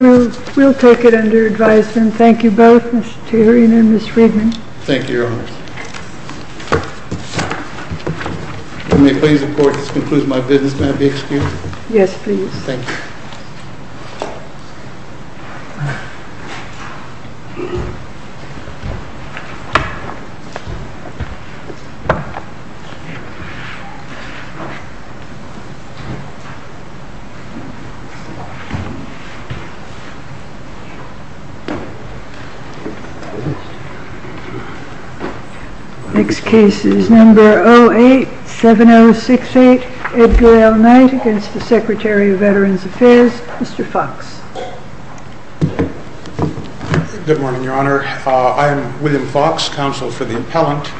We'll take it under advisement. Thank you both, Mr. Turing and Ms. Friedman. Thank you, Your Honor. Can we please report that this concludes my business? May I be excused? Yes, please. Thank you. Next case is number 087068, Edgar L. Knight, against the Secretary of Veterans Affairs, Mr. Fox. Good morning, Your Honor. I am William Fox, counsel for the appellant.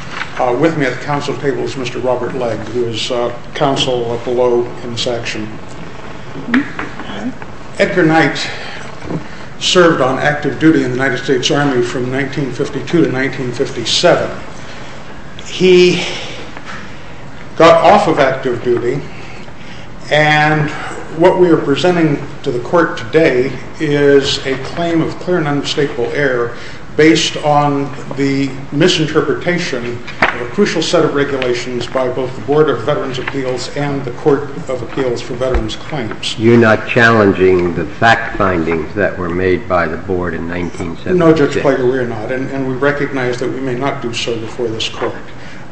With me at the counsel table is Mr. Robert Legg, who is counsel below in this action. Edgar Knight served on active duty in the United States Army from 1952 to 1957. He got off of active duty, and what we are presenting to the court today is a claim of clear and unmistakable error based on the misinterpretation of a crucial set of regulations by both the Board of Veterans' Appeals and the Court of Appeals for Veterans' Claims. You're not challenging the fact findings that were made by the Board in 1976? No, Judge Plager, we are not, and we recognize that we may not do so before this court.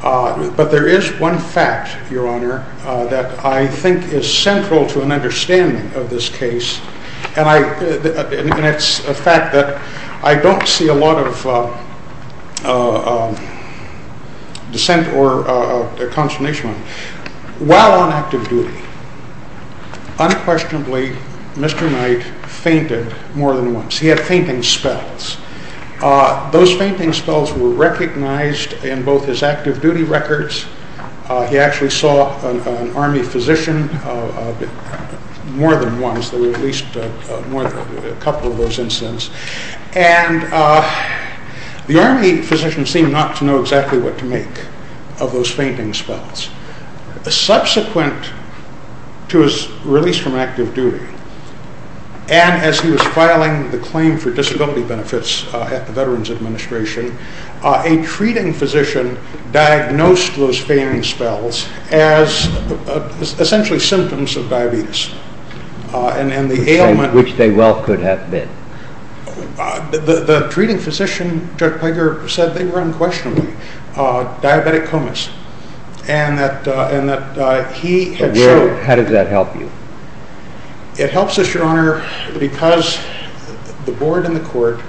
But there is one fact, Your Honor, that I think is central to an understanding of this case, and it's the fact that I don't see a lot of dissent or consternation. While on active duty, unquestionably, Mr. Knight fainted more than once. He had fainting spells. Those fainting spells were recognized in both his active duty records. He actually saw an Army physician more than once. There were at least a couple of those incidents. And the Army physician seemed not to know exactly what to make of those fainting spells. Subsequent to his release from active duty, and as he was filing the claim for disability benefits at the Veterans Administration, a treating physician diagnosed those fainting spells as essentially symptoms of diabetes. Which they well could have been. The treating physician, Judge Plager, said they were unquestionably diabetic comas. How did that help you? It helps us, Your Honor, because the board and the court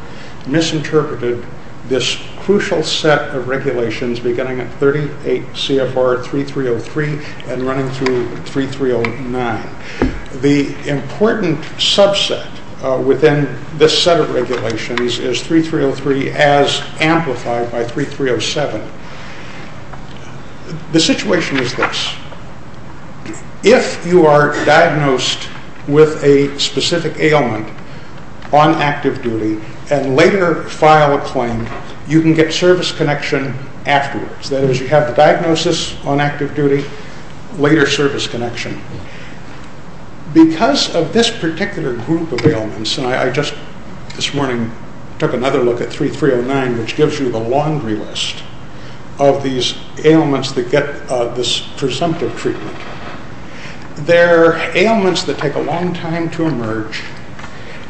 misinterpreted this crucial set of regulations beginning at 38 CFR 3303 and running through 3309. The important subset within this set of regulations is 3303 as amplified by 3307. The situation is this. If you are diagnosed with a specific ailment on active duty and later file a claim, you can get service connection afterwards. That is, you have the diagnosis on active duty, later service connection. Because of this particular group of ailments, and I just this morning took another look at 3309, which gives you the laundry list of these ailments that get this presumptive treatment. They are ailments that take a long time to emerge.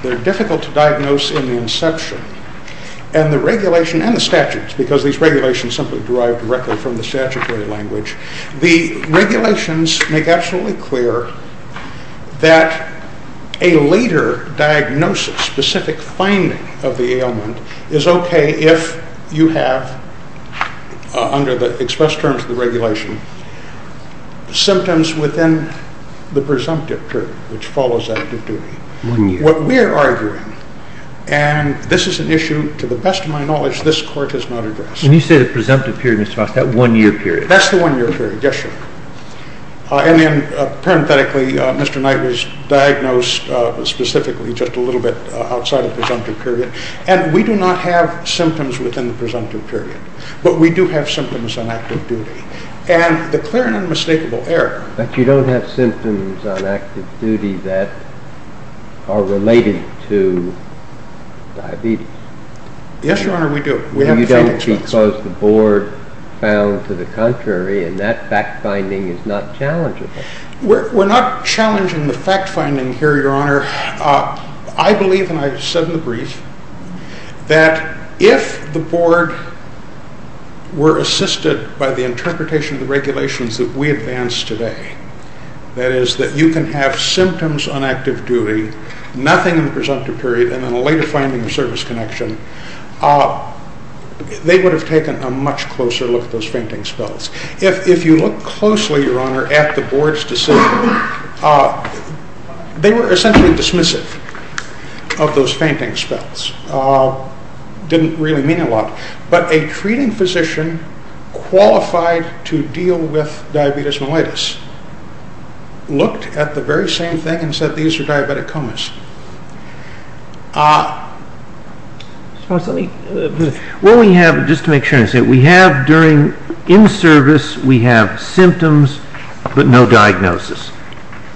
They are difficult to diagnose in the inception. And the regulations and the statutes, because these regulations simply derive directly from the statutory language, the regulations make absolutely clear that a later diagnosis, specific finding of the ailment, is okay if you have, under the express terms of the regulation, symptoms within the presumptive period, which follows active duty. What we are arguing, and this is an issue, to the best of my knowledge, this court has not addressed. When you say the presumptive period, Mr. Fox, that one-year period. That's the one-year period, yes, Your Honor. And then, parenthetically, Mr. Knight was diagnosed specifically just a little bit outside of the presumptive period. And we do not have symptoms within the presumptive period, but we do have symptoms on active duty. And the clear and unmistakable error. But you don't have symptoms on active duty that are related to diabetes. Yes, Your Honor, we do. You don't because the board found to the contrary, and that fact-finding is not challengeable. We're not challenging the fact-finding here, Your Honor. I believe, and I said in the brief, that if the board were assisted by the interpretation of the regulations that we advance today, that is, that you can have symptoms on active duty, nothing in the presumptive period, and then a later finding of service connection, they would have taken a much closer look at those fainting spells. If you look closely, Your Honor, at the board's decision, they were essentially dismissive of those fainting spells. It didn't really mean a lot. But a treating physician qualified to deal with diabetes mellitus looked at the very same thing and said these are diabetic comas. Well, we have, just to make sure, we have during in-service, we have symptoms but no diagnosis.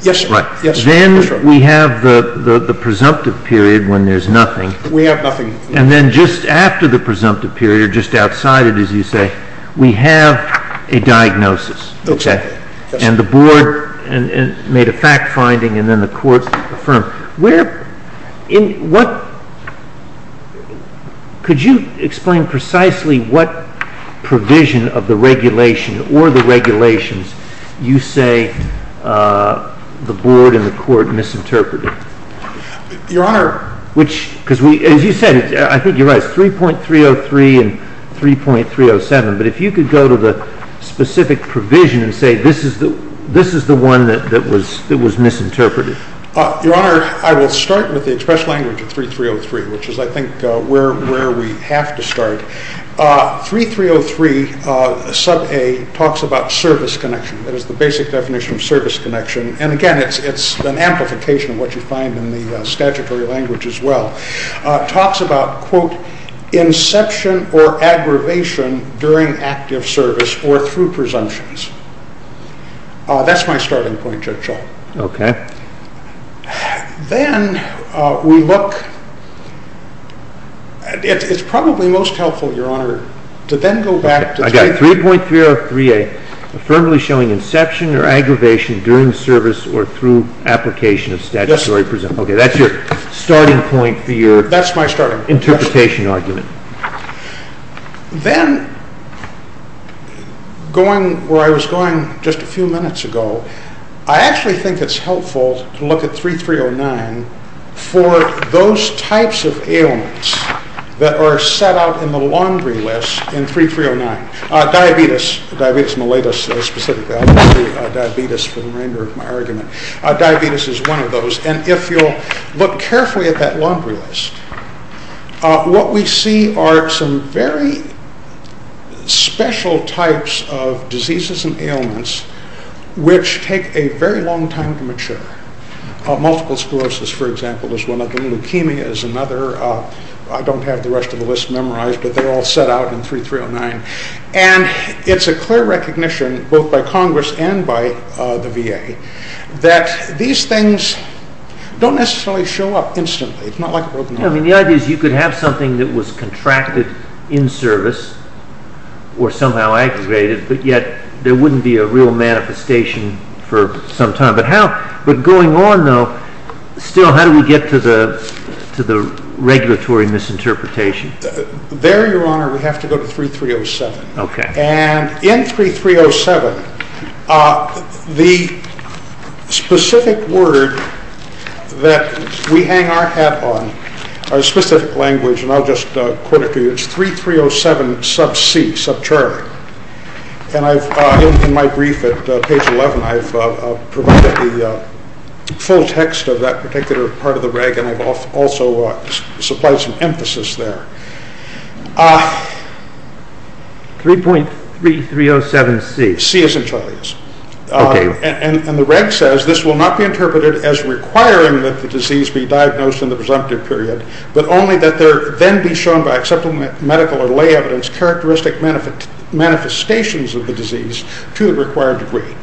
Yes, Your Honor. Then we have the presumptive period when there's nothing. We have nothing. And then just after the presumptive period, just outside it, as you say, we have a diagnosis. Okay. And the board made a fact-finding and then the court affirmed. Where, in what, could you explain precisely what provision of the regulation or the regulations you say the board and the court misinterpreted? Your Honor. Which, because we, as you said, I think you're right, it's 3.303 and 3.307. But if you could go to the specific provision and say this is the one that was misinterpreted. Your Honor, I will start with the express language of 3.303, which is, I think, where we have to start. 3.303, sub A, talks about service connection. That is the basic definition of service connection. And, again, it's an amplification of what you find in the statutory language as well. It talks about, quote, inception or aggravation during active service or through presumptions. That's my starting point, Judge Schall. Okay. Then we look, it's probably most helpful, Your Honor, to then go back to 3.303A, affirmably showing inception or aggravation during service or through application of statutory presumption. Okay. That's your starting point for your interpretation argument. Then, going where I was going just a few minutes ago, I actually think it's helpful to look at 3.309 for those types of ailments that are set out in the laundry list in 3.309. Diabetes. Diabetes mellitus, specifically. Diabetes for the remainder of my argument. Diabetes is one of those. And if you'll look carefully at that laundry list, what we see are some very special types of diseases and ailments which take a very long time to mature. Multiple sclerosis, for example, is one of them. Leukemia is another. I don't have the rest of the list memorized, but they're all set out in 3.309. And it's a clear recognition, both by Congress and by the VA, that these things don't necessarily show up instantly. It's not like a broken heart. I mean, the idea is you could have something that was contracted in service or somehow aggregated, but yet there wouldn't be a real manifestation for some time. But going on, though, still, how do we get to the regulatory misinterpretation? There, Your Honor, we have to go to 3.307. Okay. And in 3.307, the specific word that we hang our hat on, our specific language, and I'll just quote it to you, it's 3.307 sub C, sub Charlie. And in my brief at page 11, I've provided the full text of that particular part of the reg, and I've also supplied some emphasis there. 3.3307 C. C as in Charlie. And the reg says this will not be interpreted as requiring that the disease be diagnosed in the presumptive period, but only that there then be shown by acceptable medical or lay evidence characteristic manifestations of the disease to the required degree.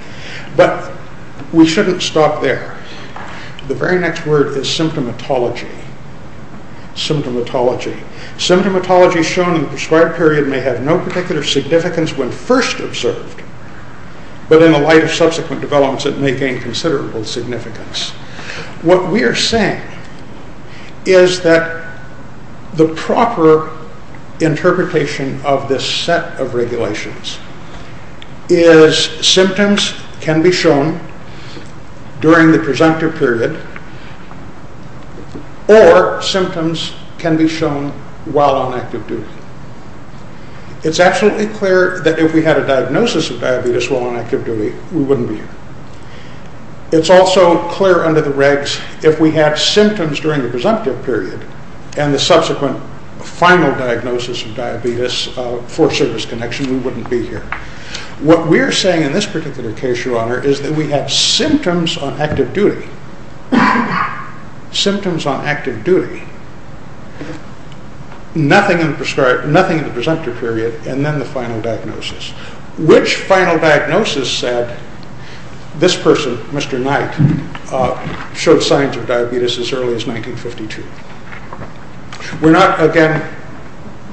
But we shouldn't stop there. The very next word is symptomatology. Symptomatology. Symptomatology shown in the prescribed period may have no particular significance when first observed, but in the light of subsequent developments, it may gain considerable significance. What we are saying is that the proper interpretation of this set of regulations is symptoms can be shown during the presumptive period, or symptoms can be shown while on active duty. It's absolutely clear that if we had a diagnosis of diabetes while on active duty, we wouldn't be here. It's also clear under the regs if we had symptoms during the presumptive period, and the subsequent final diagnosis of diabetes for service connection, we wouldn't be here. What we are saying in this particular case, Your Honor, is that we have symptoms on active duty. Symptoms on active duty. Nothing in the presumptive period, and then the final diagnosis. Which final diagnosis said this person, Mr. Knight, showed signs of diabetes as early as 1952? We're not, again,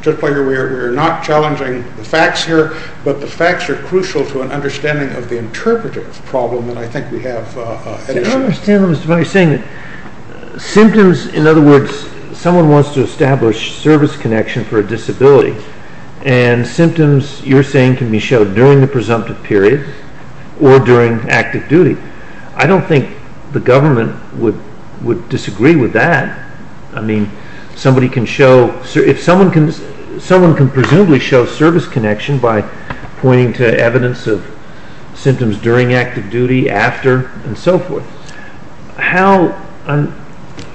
we're not challenging the facts here, but the facts are crucial to an understanding of the interpretive problem that I think we have. I don't understand what you're saying. Symptoms, in other words, someone wants to establish service connection for a disability, and symptoms, you're saying, can be shown during the presumptive period, or during active duty. I don't think the government would disagree with that. I mean, somebody can show, if someone can presumably show service connection by pointing to evidence of symptoms during active duty, after, and so forth.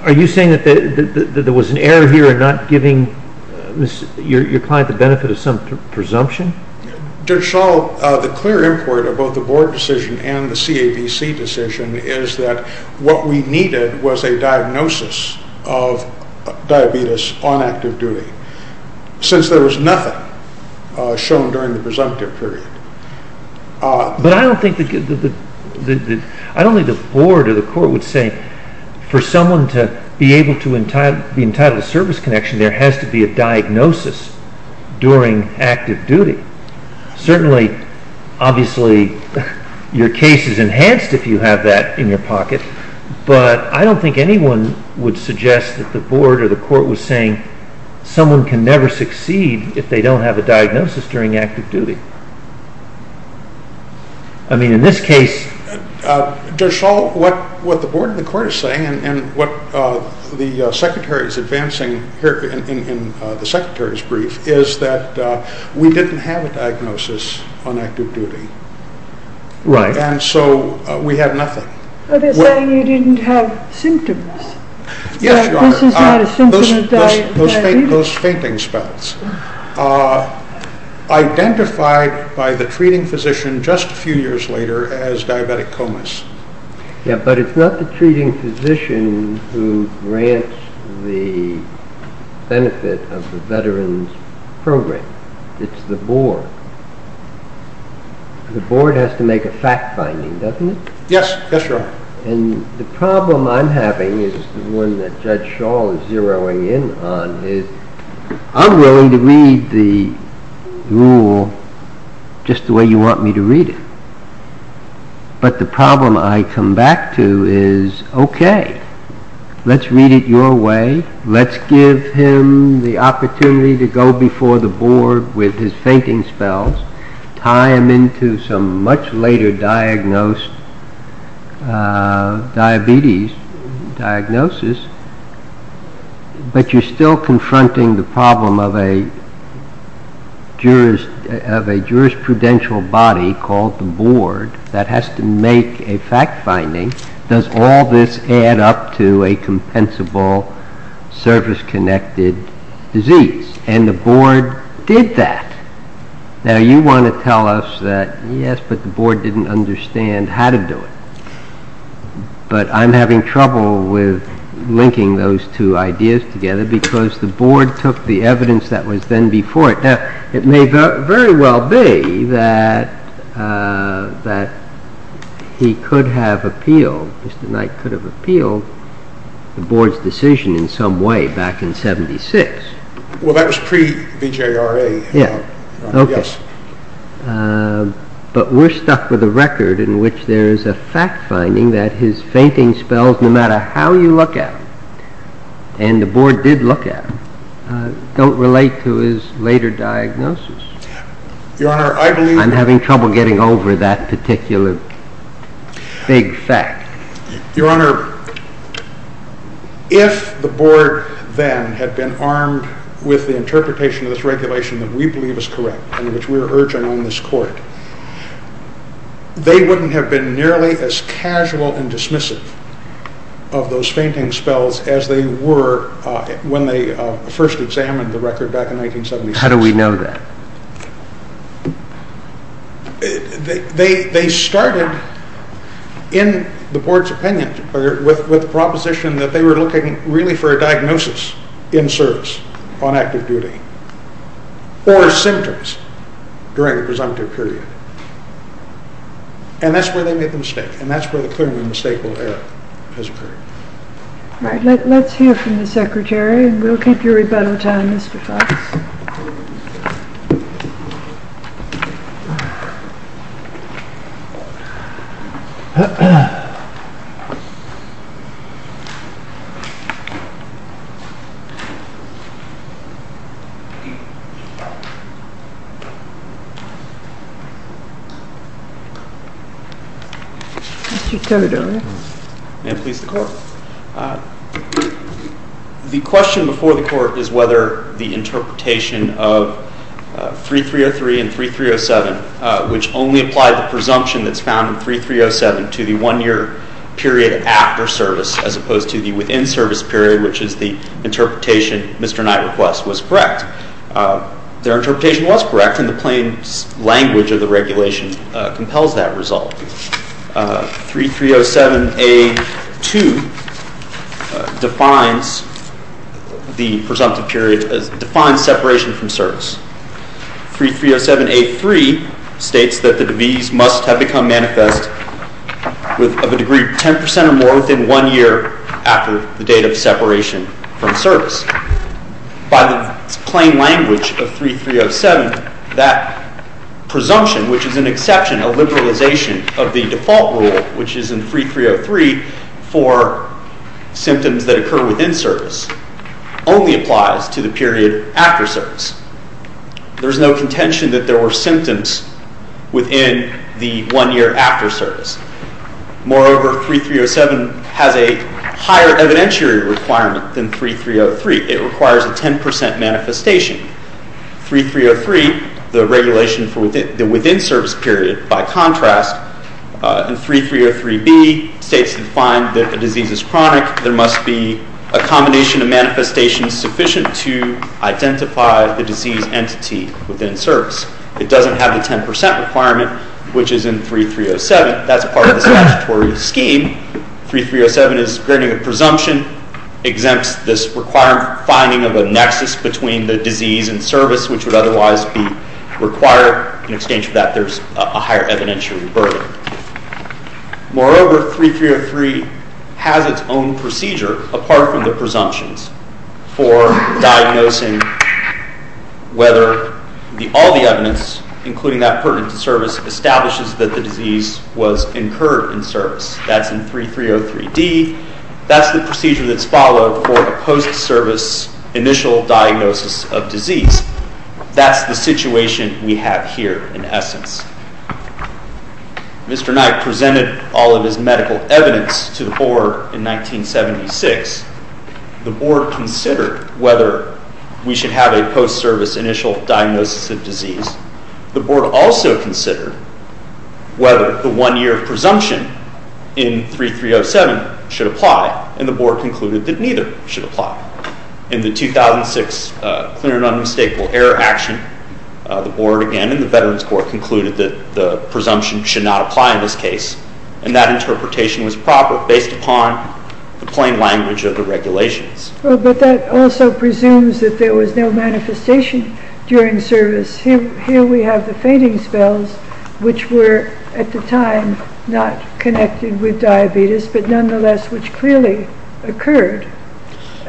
Are you saying that there was an error here in not giving your client the benefit of some presumption? Judge Schall, the clear import of both the board decision and the CABC decision is that what we needed was a diagnosis of diabetes on active duty, since there was nothing shown during the presumptive period. But I don't think the board or the court would say, for someone to be able to be entitled to service connection, there has to be a diagnosis during active duty. Certainly, obviously, your case is enhanced if you have that in your pocket, but I don't think anyone would suggest that the board or the court was saying someone can never succeed if they don't have a diagnosis during active duty. I mean, in this case... Judge Schall, what the board and the court are saying, and what the secretary is advancing here in the secretary's brief, is that we didn't have a diagnosis on active duty. Right. And so we had nothing. Are they saying you didn't have symptoms? Yes, Your Honor. This is not a symptom of diabetes? Those fainting spells. Identified by the treating physician just a few years later as diabetic comas. Yeah, but it's not the treating physician who grants the benefit of the veteran's program. It's the board. The board has to make a fact-finding, doesn't it? Yes, yes, Your Honor. And the problem I'm having is the one that Judge Schall is zeroing in on, is I'm willing to read the rule just the way you want me to read it. But the problem I come back to is, okay, let's read it your way. Let's give him the opportunity to go before the board with his fainting spells, tie him into some much later diagnosed diabetes diagnosis, but you're still confronting the problem of a jurisprudential body called the board that has to make a fact-finding. Does all this add up to a compensable service-connected disease? And the board did that. Now, you want to tell us that, yes, but the board didn't understand how to do it. But I'm having trouble with linking those two ideas together because the board took the evidence that was then before it. Now, it may very well be that he could have appealed, Mr. Knight could have appealed the board's decision in some way back in 76. Well, that was pre-VJRA, Your Honor. Yes. But we're stuck with a record in which there is a fact-finding that his fainting spells, no matter how you look at them, and the board did look at them, don't relate to his later diagnosis. Your Honor, I believe... I'm having trouble getting over that particular big fact. Your Honor, if the board then had been armed with the interpretation of this regulation that we believe is correct and which we're urging on this court, they wouldn't have been nearly as casual and dismissive of those fainting spells as they were when they first examined the record back in 1976. How do we know that? They started, in the board's opinion, with the proposition that they were looking really for a diagnosis in service on active duty or symptoms during the presumptive period. And that's where they made the mistake, and that's where the clearly mistakeable error has occurred. All right. Let's hear from the Secretary, and we'll keep you rebuttal time, Mr. Fox. Mr. Codola. May it please the Court. The question before the Court is whether the interpretation of 3303 and 3307, which only applied the presumption that's found in 3307 to the one-year period after service as opposed to the within-service period, which is the interpretation Mr. Knight requests, was correct. Their interpretation was correct, and the plain language of the regulation compels that result. 3307A.2 defines separation from service. 3307A.3 states that the disease must have become manifest of a degree 10 percent or more within one year after the date of separation from service. By the plain language of 3307, that presumption, which is an exception, a liberalization of the default rule, which is in 3303 for symptoms that occur within service, only applies to the period after service. There's no contention that there were symptoms within the one year after service. Moreover, 3307 has a higher evidentiary requirement than 3303. It requires a 10 percent manifestation. 3303, the regulation for the within-service period, by contrast, in 3303B states that a disease is chronic. There must be a combination of manifestations sufficient to identify the disease entity within service. It doesn't have a 10 percent requirement, which is in 3307. That's a part of the statutory scheme. 3307 is granting a presumption, exempts this required finding of a nexus between the disease and service, which would otherwise be required. In exchange for that, there's a higher evidentiary burden. Moreover, 3303 has its own procedure, apart from the presumptions, for diagnosing whether all the evidence, including that pertinent to service, establishes that the disease was incurred in service. That's in 3303D. That's the procedure that's followed for a post-service initial diagnosis of disease. That's the situation we have here, in essence. Mr. Knight presented all of his medical evidence to the Board in 1976. The Board considered whether we should have a post-service initial diagnosis of disease. The Board also considered whether the one-year presumption in 3307 should apply, and the Board concluded that neither should apply. In the 2006 Clear and Unmistakable Error Action, the Board again, and the Veterans Court, concluded that the presumption should not apply in this case, and that interpretation was proper based upon the plain language of the regulations. But that also presumes that there was no manifestation during service. Here we have the fainting spells, which were, at the time, not connected with diabetes, but nonetheless, which clearly occurred.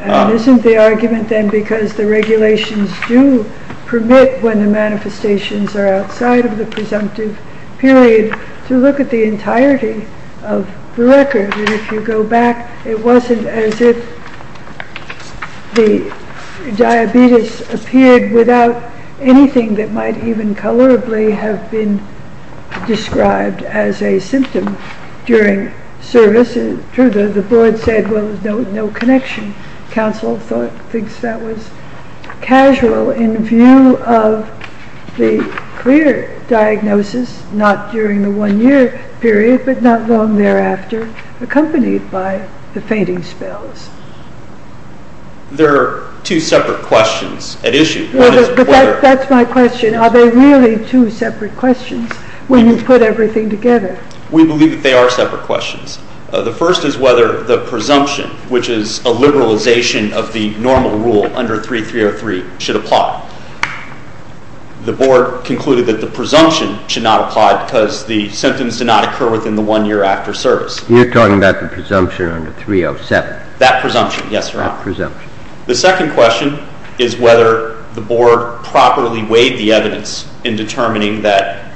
Isn't the argument, then, because the regulations do permit, when the manifestations are outside of the presumptive period, to look at the entirety of the record? If you go back, it wasn't as if the diabetes appeared without anything that might even colorably have been described as a symptom during service. The Board said, well, there's no connection. Council thinks that was casual in view of the clear diagnosis, not during the one-year period, but not long thereafter, accompanied by the fainting spells. There are two separate questions at issue. That's my question. Are there really two separate questions when you put everything together? We believe that they are separate questions. The first is whether the presumption, which is a liberalization of the normal rule under 3303, should apply. The Board concluded that the presumption should not apply because the symptoms did not occur within the one year after service. You're talking about the presumption under 307? That presumption, yes, Your Honor. That presumption. The second question is whether the Board properly weighed the evidence in determining that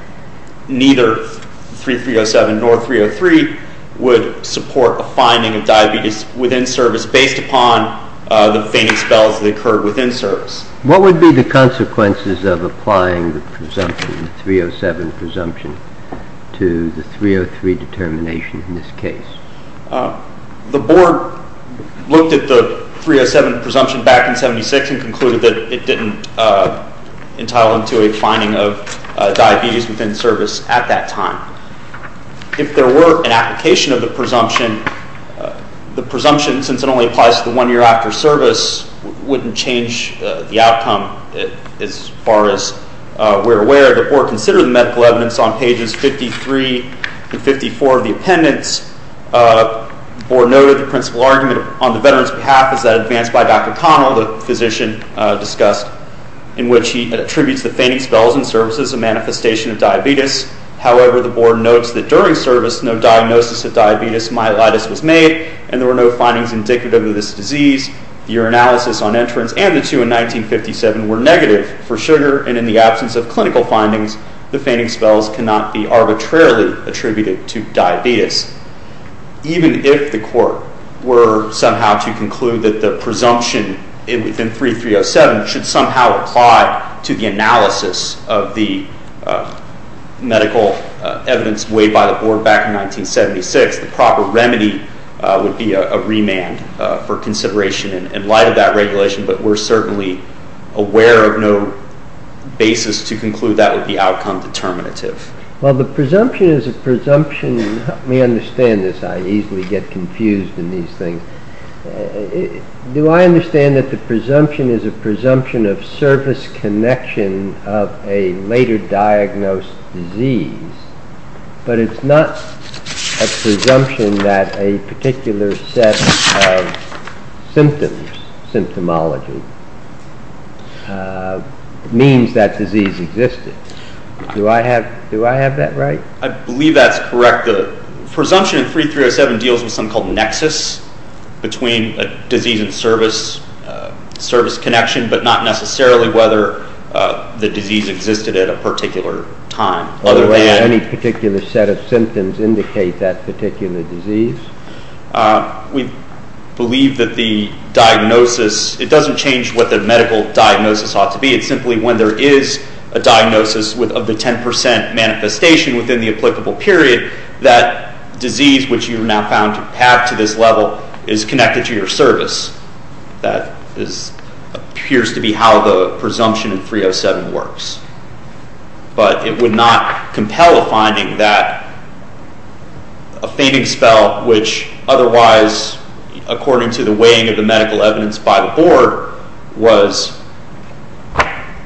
neither 3307 nor 303 would support a finding of diabetes within service based upon the fainting spells that occurred within service. What would be the consequences of applying the presumption, the 307 presumption, to the 303 determination in this case? The Board looked at the 307 presumption back in 76 and concluded that it didn't entail a finding of diabetes within service at that time. If there were an application of the presumption, the presumption, since it only applies to the one year after service, wouldn't change the outcome as far as we're aware. The Board considered the medical evidence on pages 53 and 54 of the appendix. The Board noted the principal argument on the veteran's behalf is that advanced by Dr. Connell, the physician discussed, in which he attributes the fainting spells in service as a manifestation of diabetes. However, the Board notes that during service no diagnosis of diabetes myelitis was made and there were no findings indicative of this disease. The urinalysis on entrance and the two in 1957 were negative for sugar and in the absence of clinical findings, the fainting spells cannot be arbitrarily attributed to diabetes. Even if the Court were somehow to conclude that the presumption within 3307 should somehow apply to the analysis of the medical evidence weighed by the Board back in 1976, I guess the proper remedy would be a remand for consideration in light of that regulation, but we're certainly aware of no basis to conclude that would be outcome determinative. Well, the presumption is a presumption. Let me understand this. I easily get confused in these things. Do I understand that the presumption is a presumption of service connection of a later diagnosed disease, but it's not a presumption that a particular set of symptoms, symptomology, means that disease existed. Do I have that right? I believe that's correct. The presumption in 3307 deals with something called nexus between a disease and service connection, but not necessarily whether the disease existed at a particular time. Other than any particular set of symptoms indicate that particular disease. We believe that the diagnosis, it doesn't change what the medical diagnosis ought to be. It's simply when there is a diagnosis of the 10% manifestation within the applicable period, that disease, which you now have to this level, is connected to your service. That appears to be how the presumption in 307 works, but it would not compel a finding that a fainting spell, which otherwise, according to the weighing of the medical evidence by the board, was,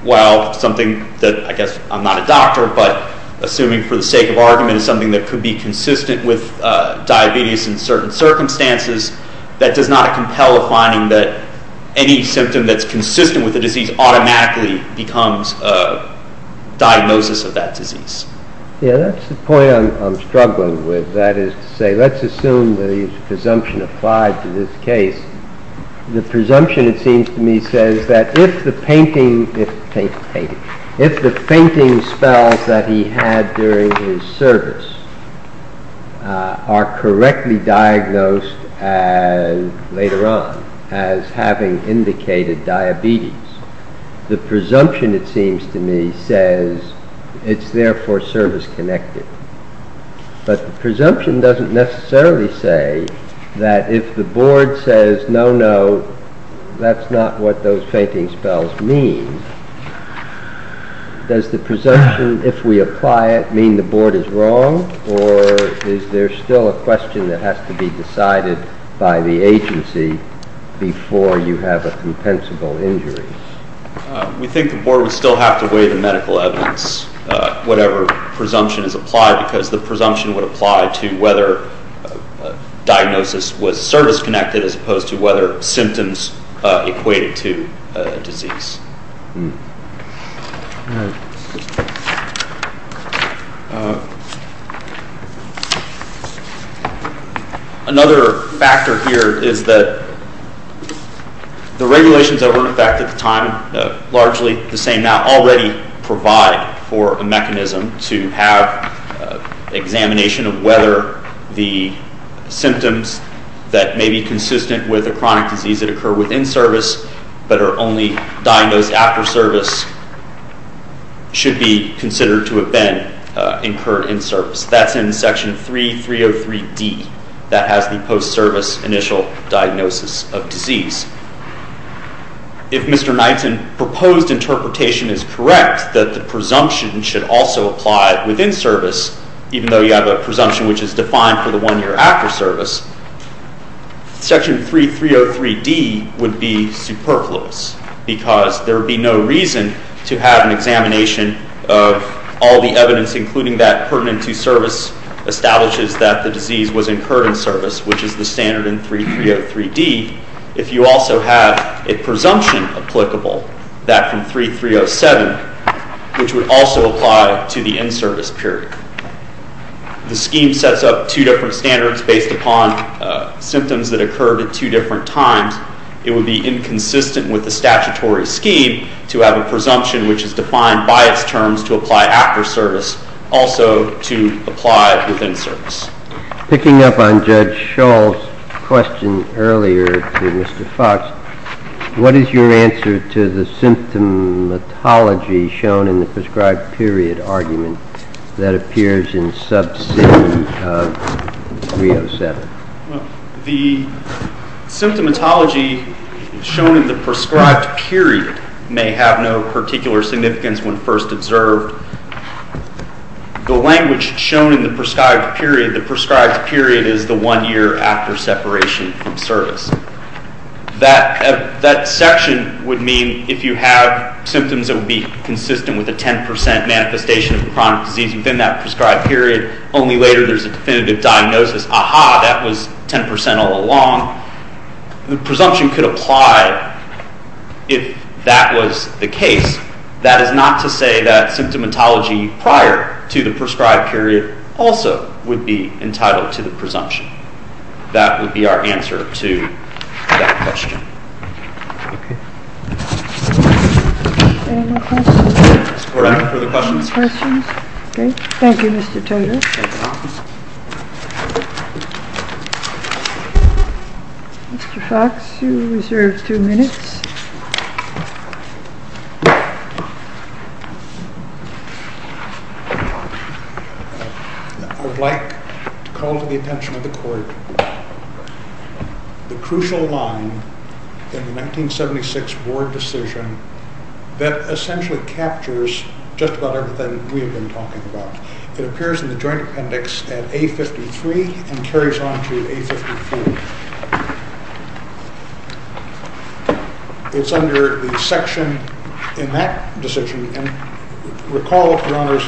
well, something that, I guess I'm not a doctor, but assuming for the sake of argument, is something that could be consistent with diabetes in certain circumstances, that does not compel a finding that any symptom that's consistent with the disease automatically becomes a diagnosis of that disease. Yeah, that's the point I'm struggling with. That is to say, let's assume the presumption applied to this case. The presumption, it seems to me, says that if the fainting spells that he had during his service are correctly diagnosed later on as having indicated diabetes, the presumption, it seems to me, says it's therefore service-connected. But the presumption doesn't necessarily say that if the board says no, no, that's not what those fainting spells mean. Does the presumption, if we apply it, mean the board is wrong, or is there still a question that has to be decided by the agency before you have a compensable injury? We think the board would still have to weigh the medical evidence, whatever presumption is applied, because the presumption would apply to whether diagnosis was service-connected as opposed to whether symptoms equated to disease. All right. Another factor here is that the regulations that were in effect at the time, largely the same now, already provide for a mechanism to have examination of whether the symptoms that may be consistent with a chronic disease that occurred within service but are only diagnosed after service should be considered to have been incurred in service. That's in Section 3303D. That has the post-service initial diagnosis of disease. If Mr. Knightson's proposed interpretation is correct, that the presumption should also apply within service, even though you have a presumption which is defined for the one year after service, Section 3303D would be superfluous because there would be no reason to have an examination of all the evidence, including that pertinent to service, establishes that the disease was incurred in service, which is the standard in 3303D, if you also have a presumption applicable, that from 3307, which would also apply to the in-service period. The scheme sets up two different standards based upon symptoms that occurred at two different times. It would be inconsistent with the statutory scheme to have a presumption which is defined by its terms to apply after service also to apply within service. Picking up on Judge Shull's question earlier to Mr. Fox, what is your answer to the symptomatology shown in the prescribed period argument that appears in subsection of 307? The symptomatology shown in the prescribed period may have no particular significance when first observed. The language shown in the prescribed period, the prescribed period is the one year after separation from service. That section would mean if you have symptoms that would be consistent with a 10% manifestation of chronic disease within that prescribed period, only later there's a definitive diagnosis, aha, that was 10% all along. The presumption could apply if that was the case. That is not to say that symptomatology prior to the prescribed period also would be entitled to the presumption. That would be our answer to that question. Okay. Any more questions? Ms. Koran for the questions. Any more questions? Okay. Thank you, Mr. Toter. Mr. Fox, you reserve two minutes. I would like to call to the attention of the Court the crucial line in the 1976 Board decision that essentially captures just about everything we have been talking about. It appears in the Joint Appendix at A53 and carries on to A54. It's under the section in that decision, Recall, Your Honors,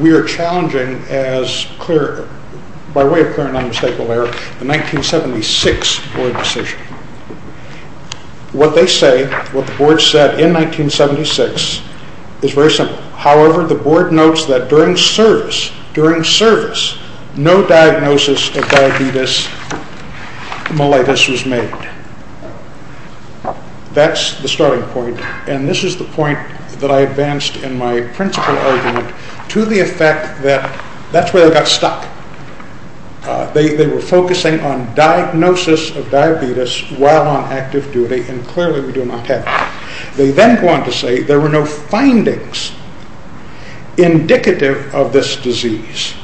we are challenging, by way of clear and unmistakable error, the 1976 Board decision. What they say, what the Board said in 1976 is very simple. However, the Board notes that during service, no diagnosis of diabetes mellitus was made. That's the starting point. And this is the point that I advanced in my principal argument to the effect that that's where they got stuck. They were focusing on diagnosis of diabetes while on active duty, and clearly we do not have that. They then go on to say there were no findings indicative of this disease,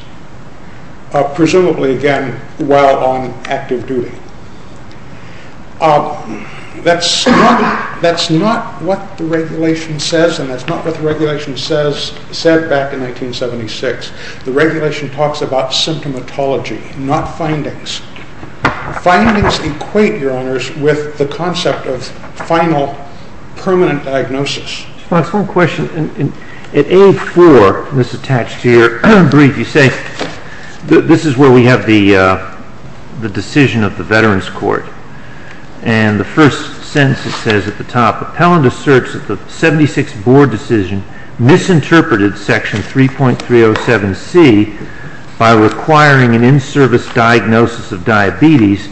presumably, again, while on active duty. That's not what the regulation says, and that's not what the regulation said back in 1976. The regulation talks about symptomatology, not findings. Findings equate, Your Honors, with the concept of final, permanent diagnosis. Just one question. At A4, this is attached here, you say this is where we have the decision of the Veterans Court, and the first sentence says at the top, Appellant asserts that the 1976 Board decision misinterpreted Section 3.307C by requiring an in-service diagnosis of diabetes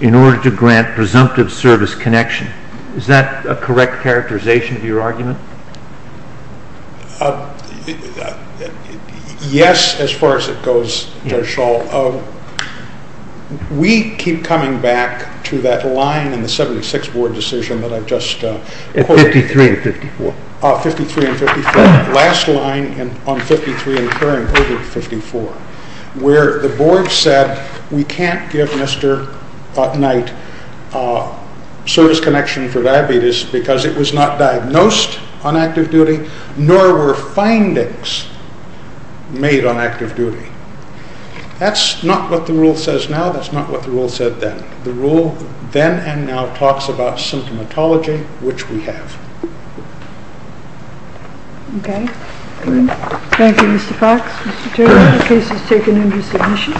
in order to grant presumptive service connection. Is that a correct characterization of your argument? Yes, as far as it goes, Judge Schall. We keep coming back to that line in the 1976 Board decision that I just quoted. At 53 and 54. 53 and 54. Last line on 53 incurring over 54, where the Board said we can't give Mr. Knight service connection for diabetes because it was not diagnosed on active duty, nor were findings made on active duty. That's not what the rule says now. That's not what the rule said then. The rule then and now talks about symptomatology, which we have. Okay. Thank you, Mr. Fox. Mr. Turner, the case is taken under submission.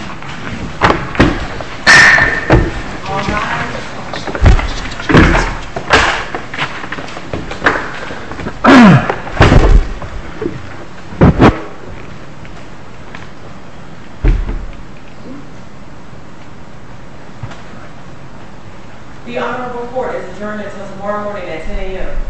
The Honorable Court has adjourned until tomorrow morning at 10 a.m.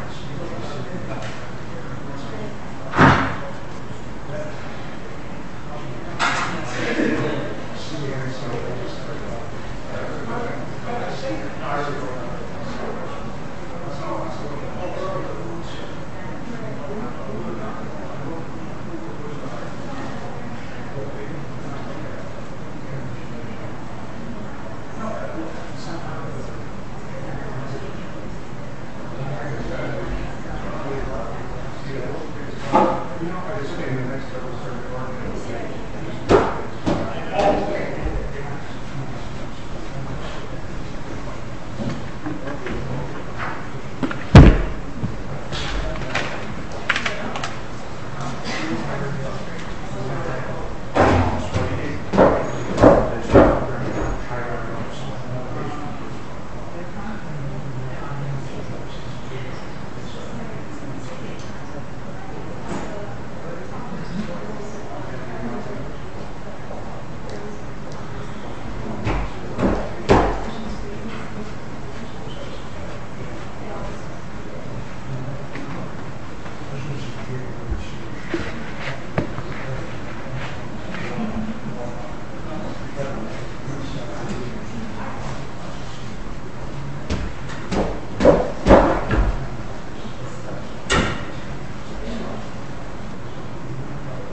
Well, I'm going to work. Thank you. Thank you. Thank you. Thank you.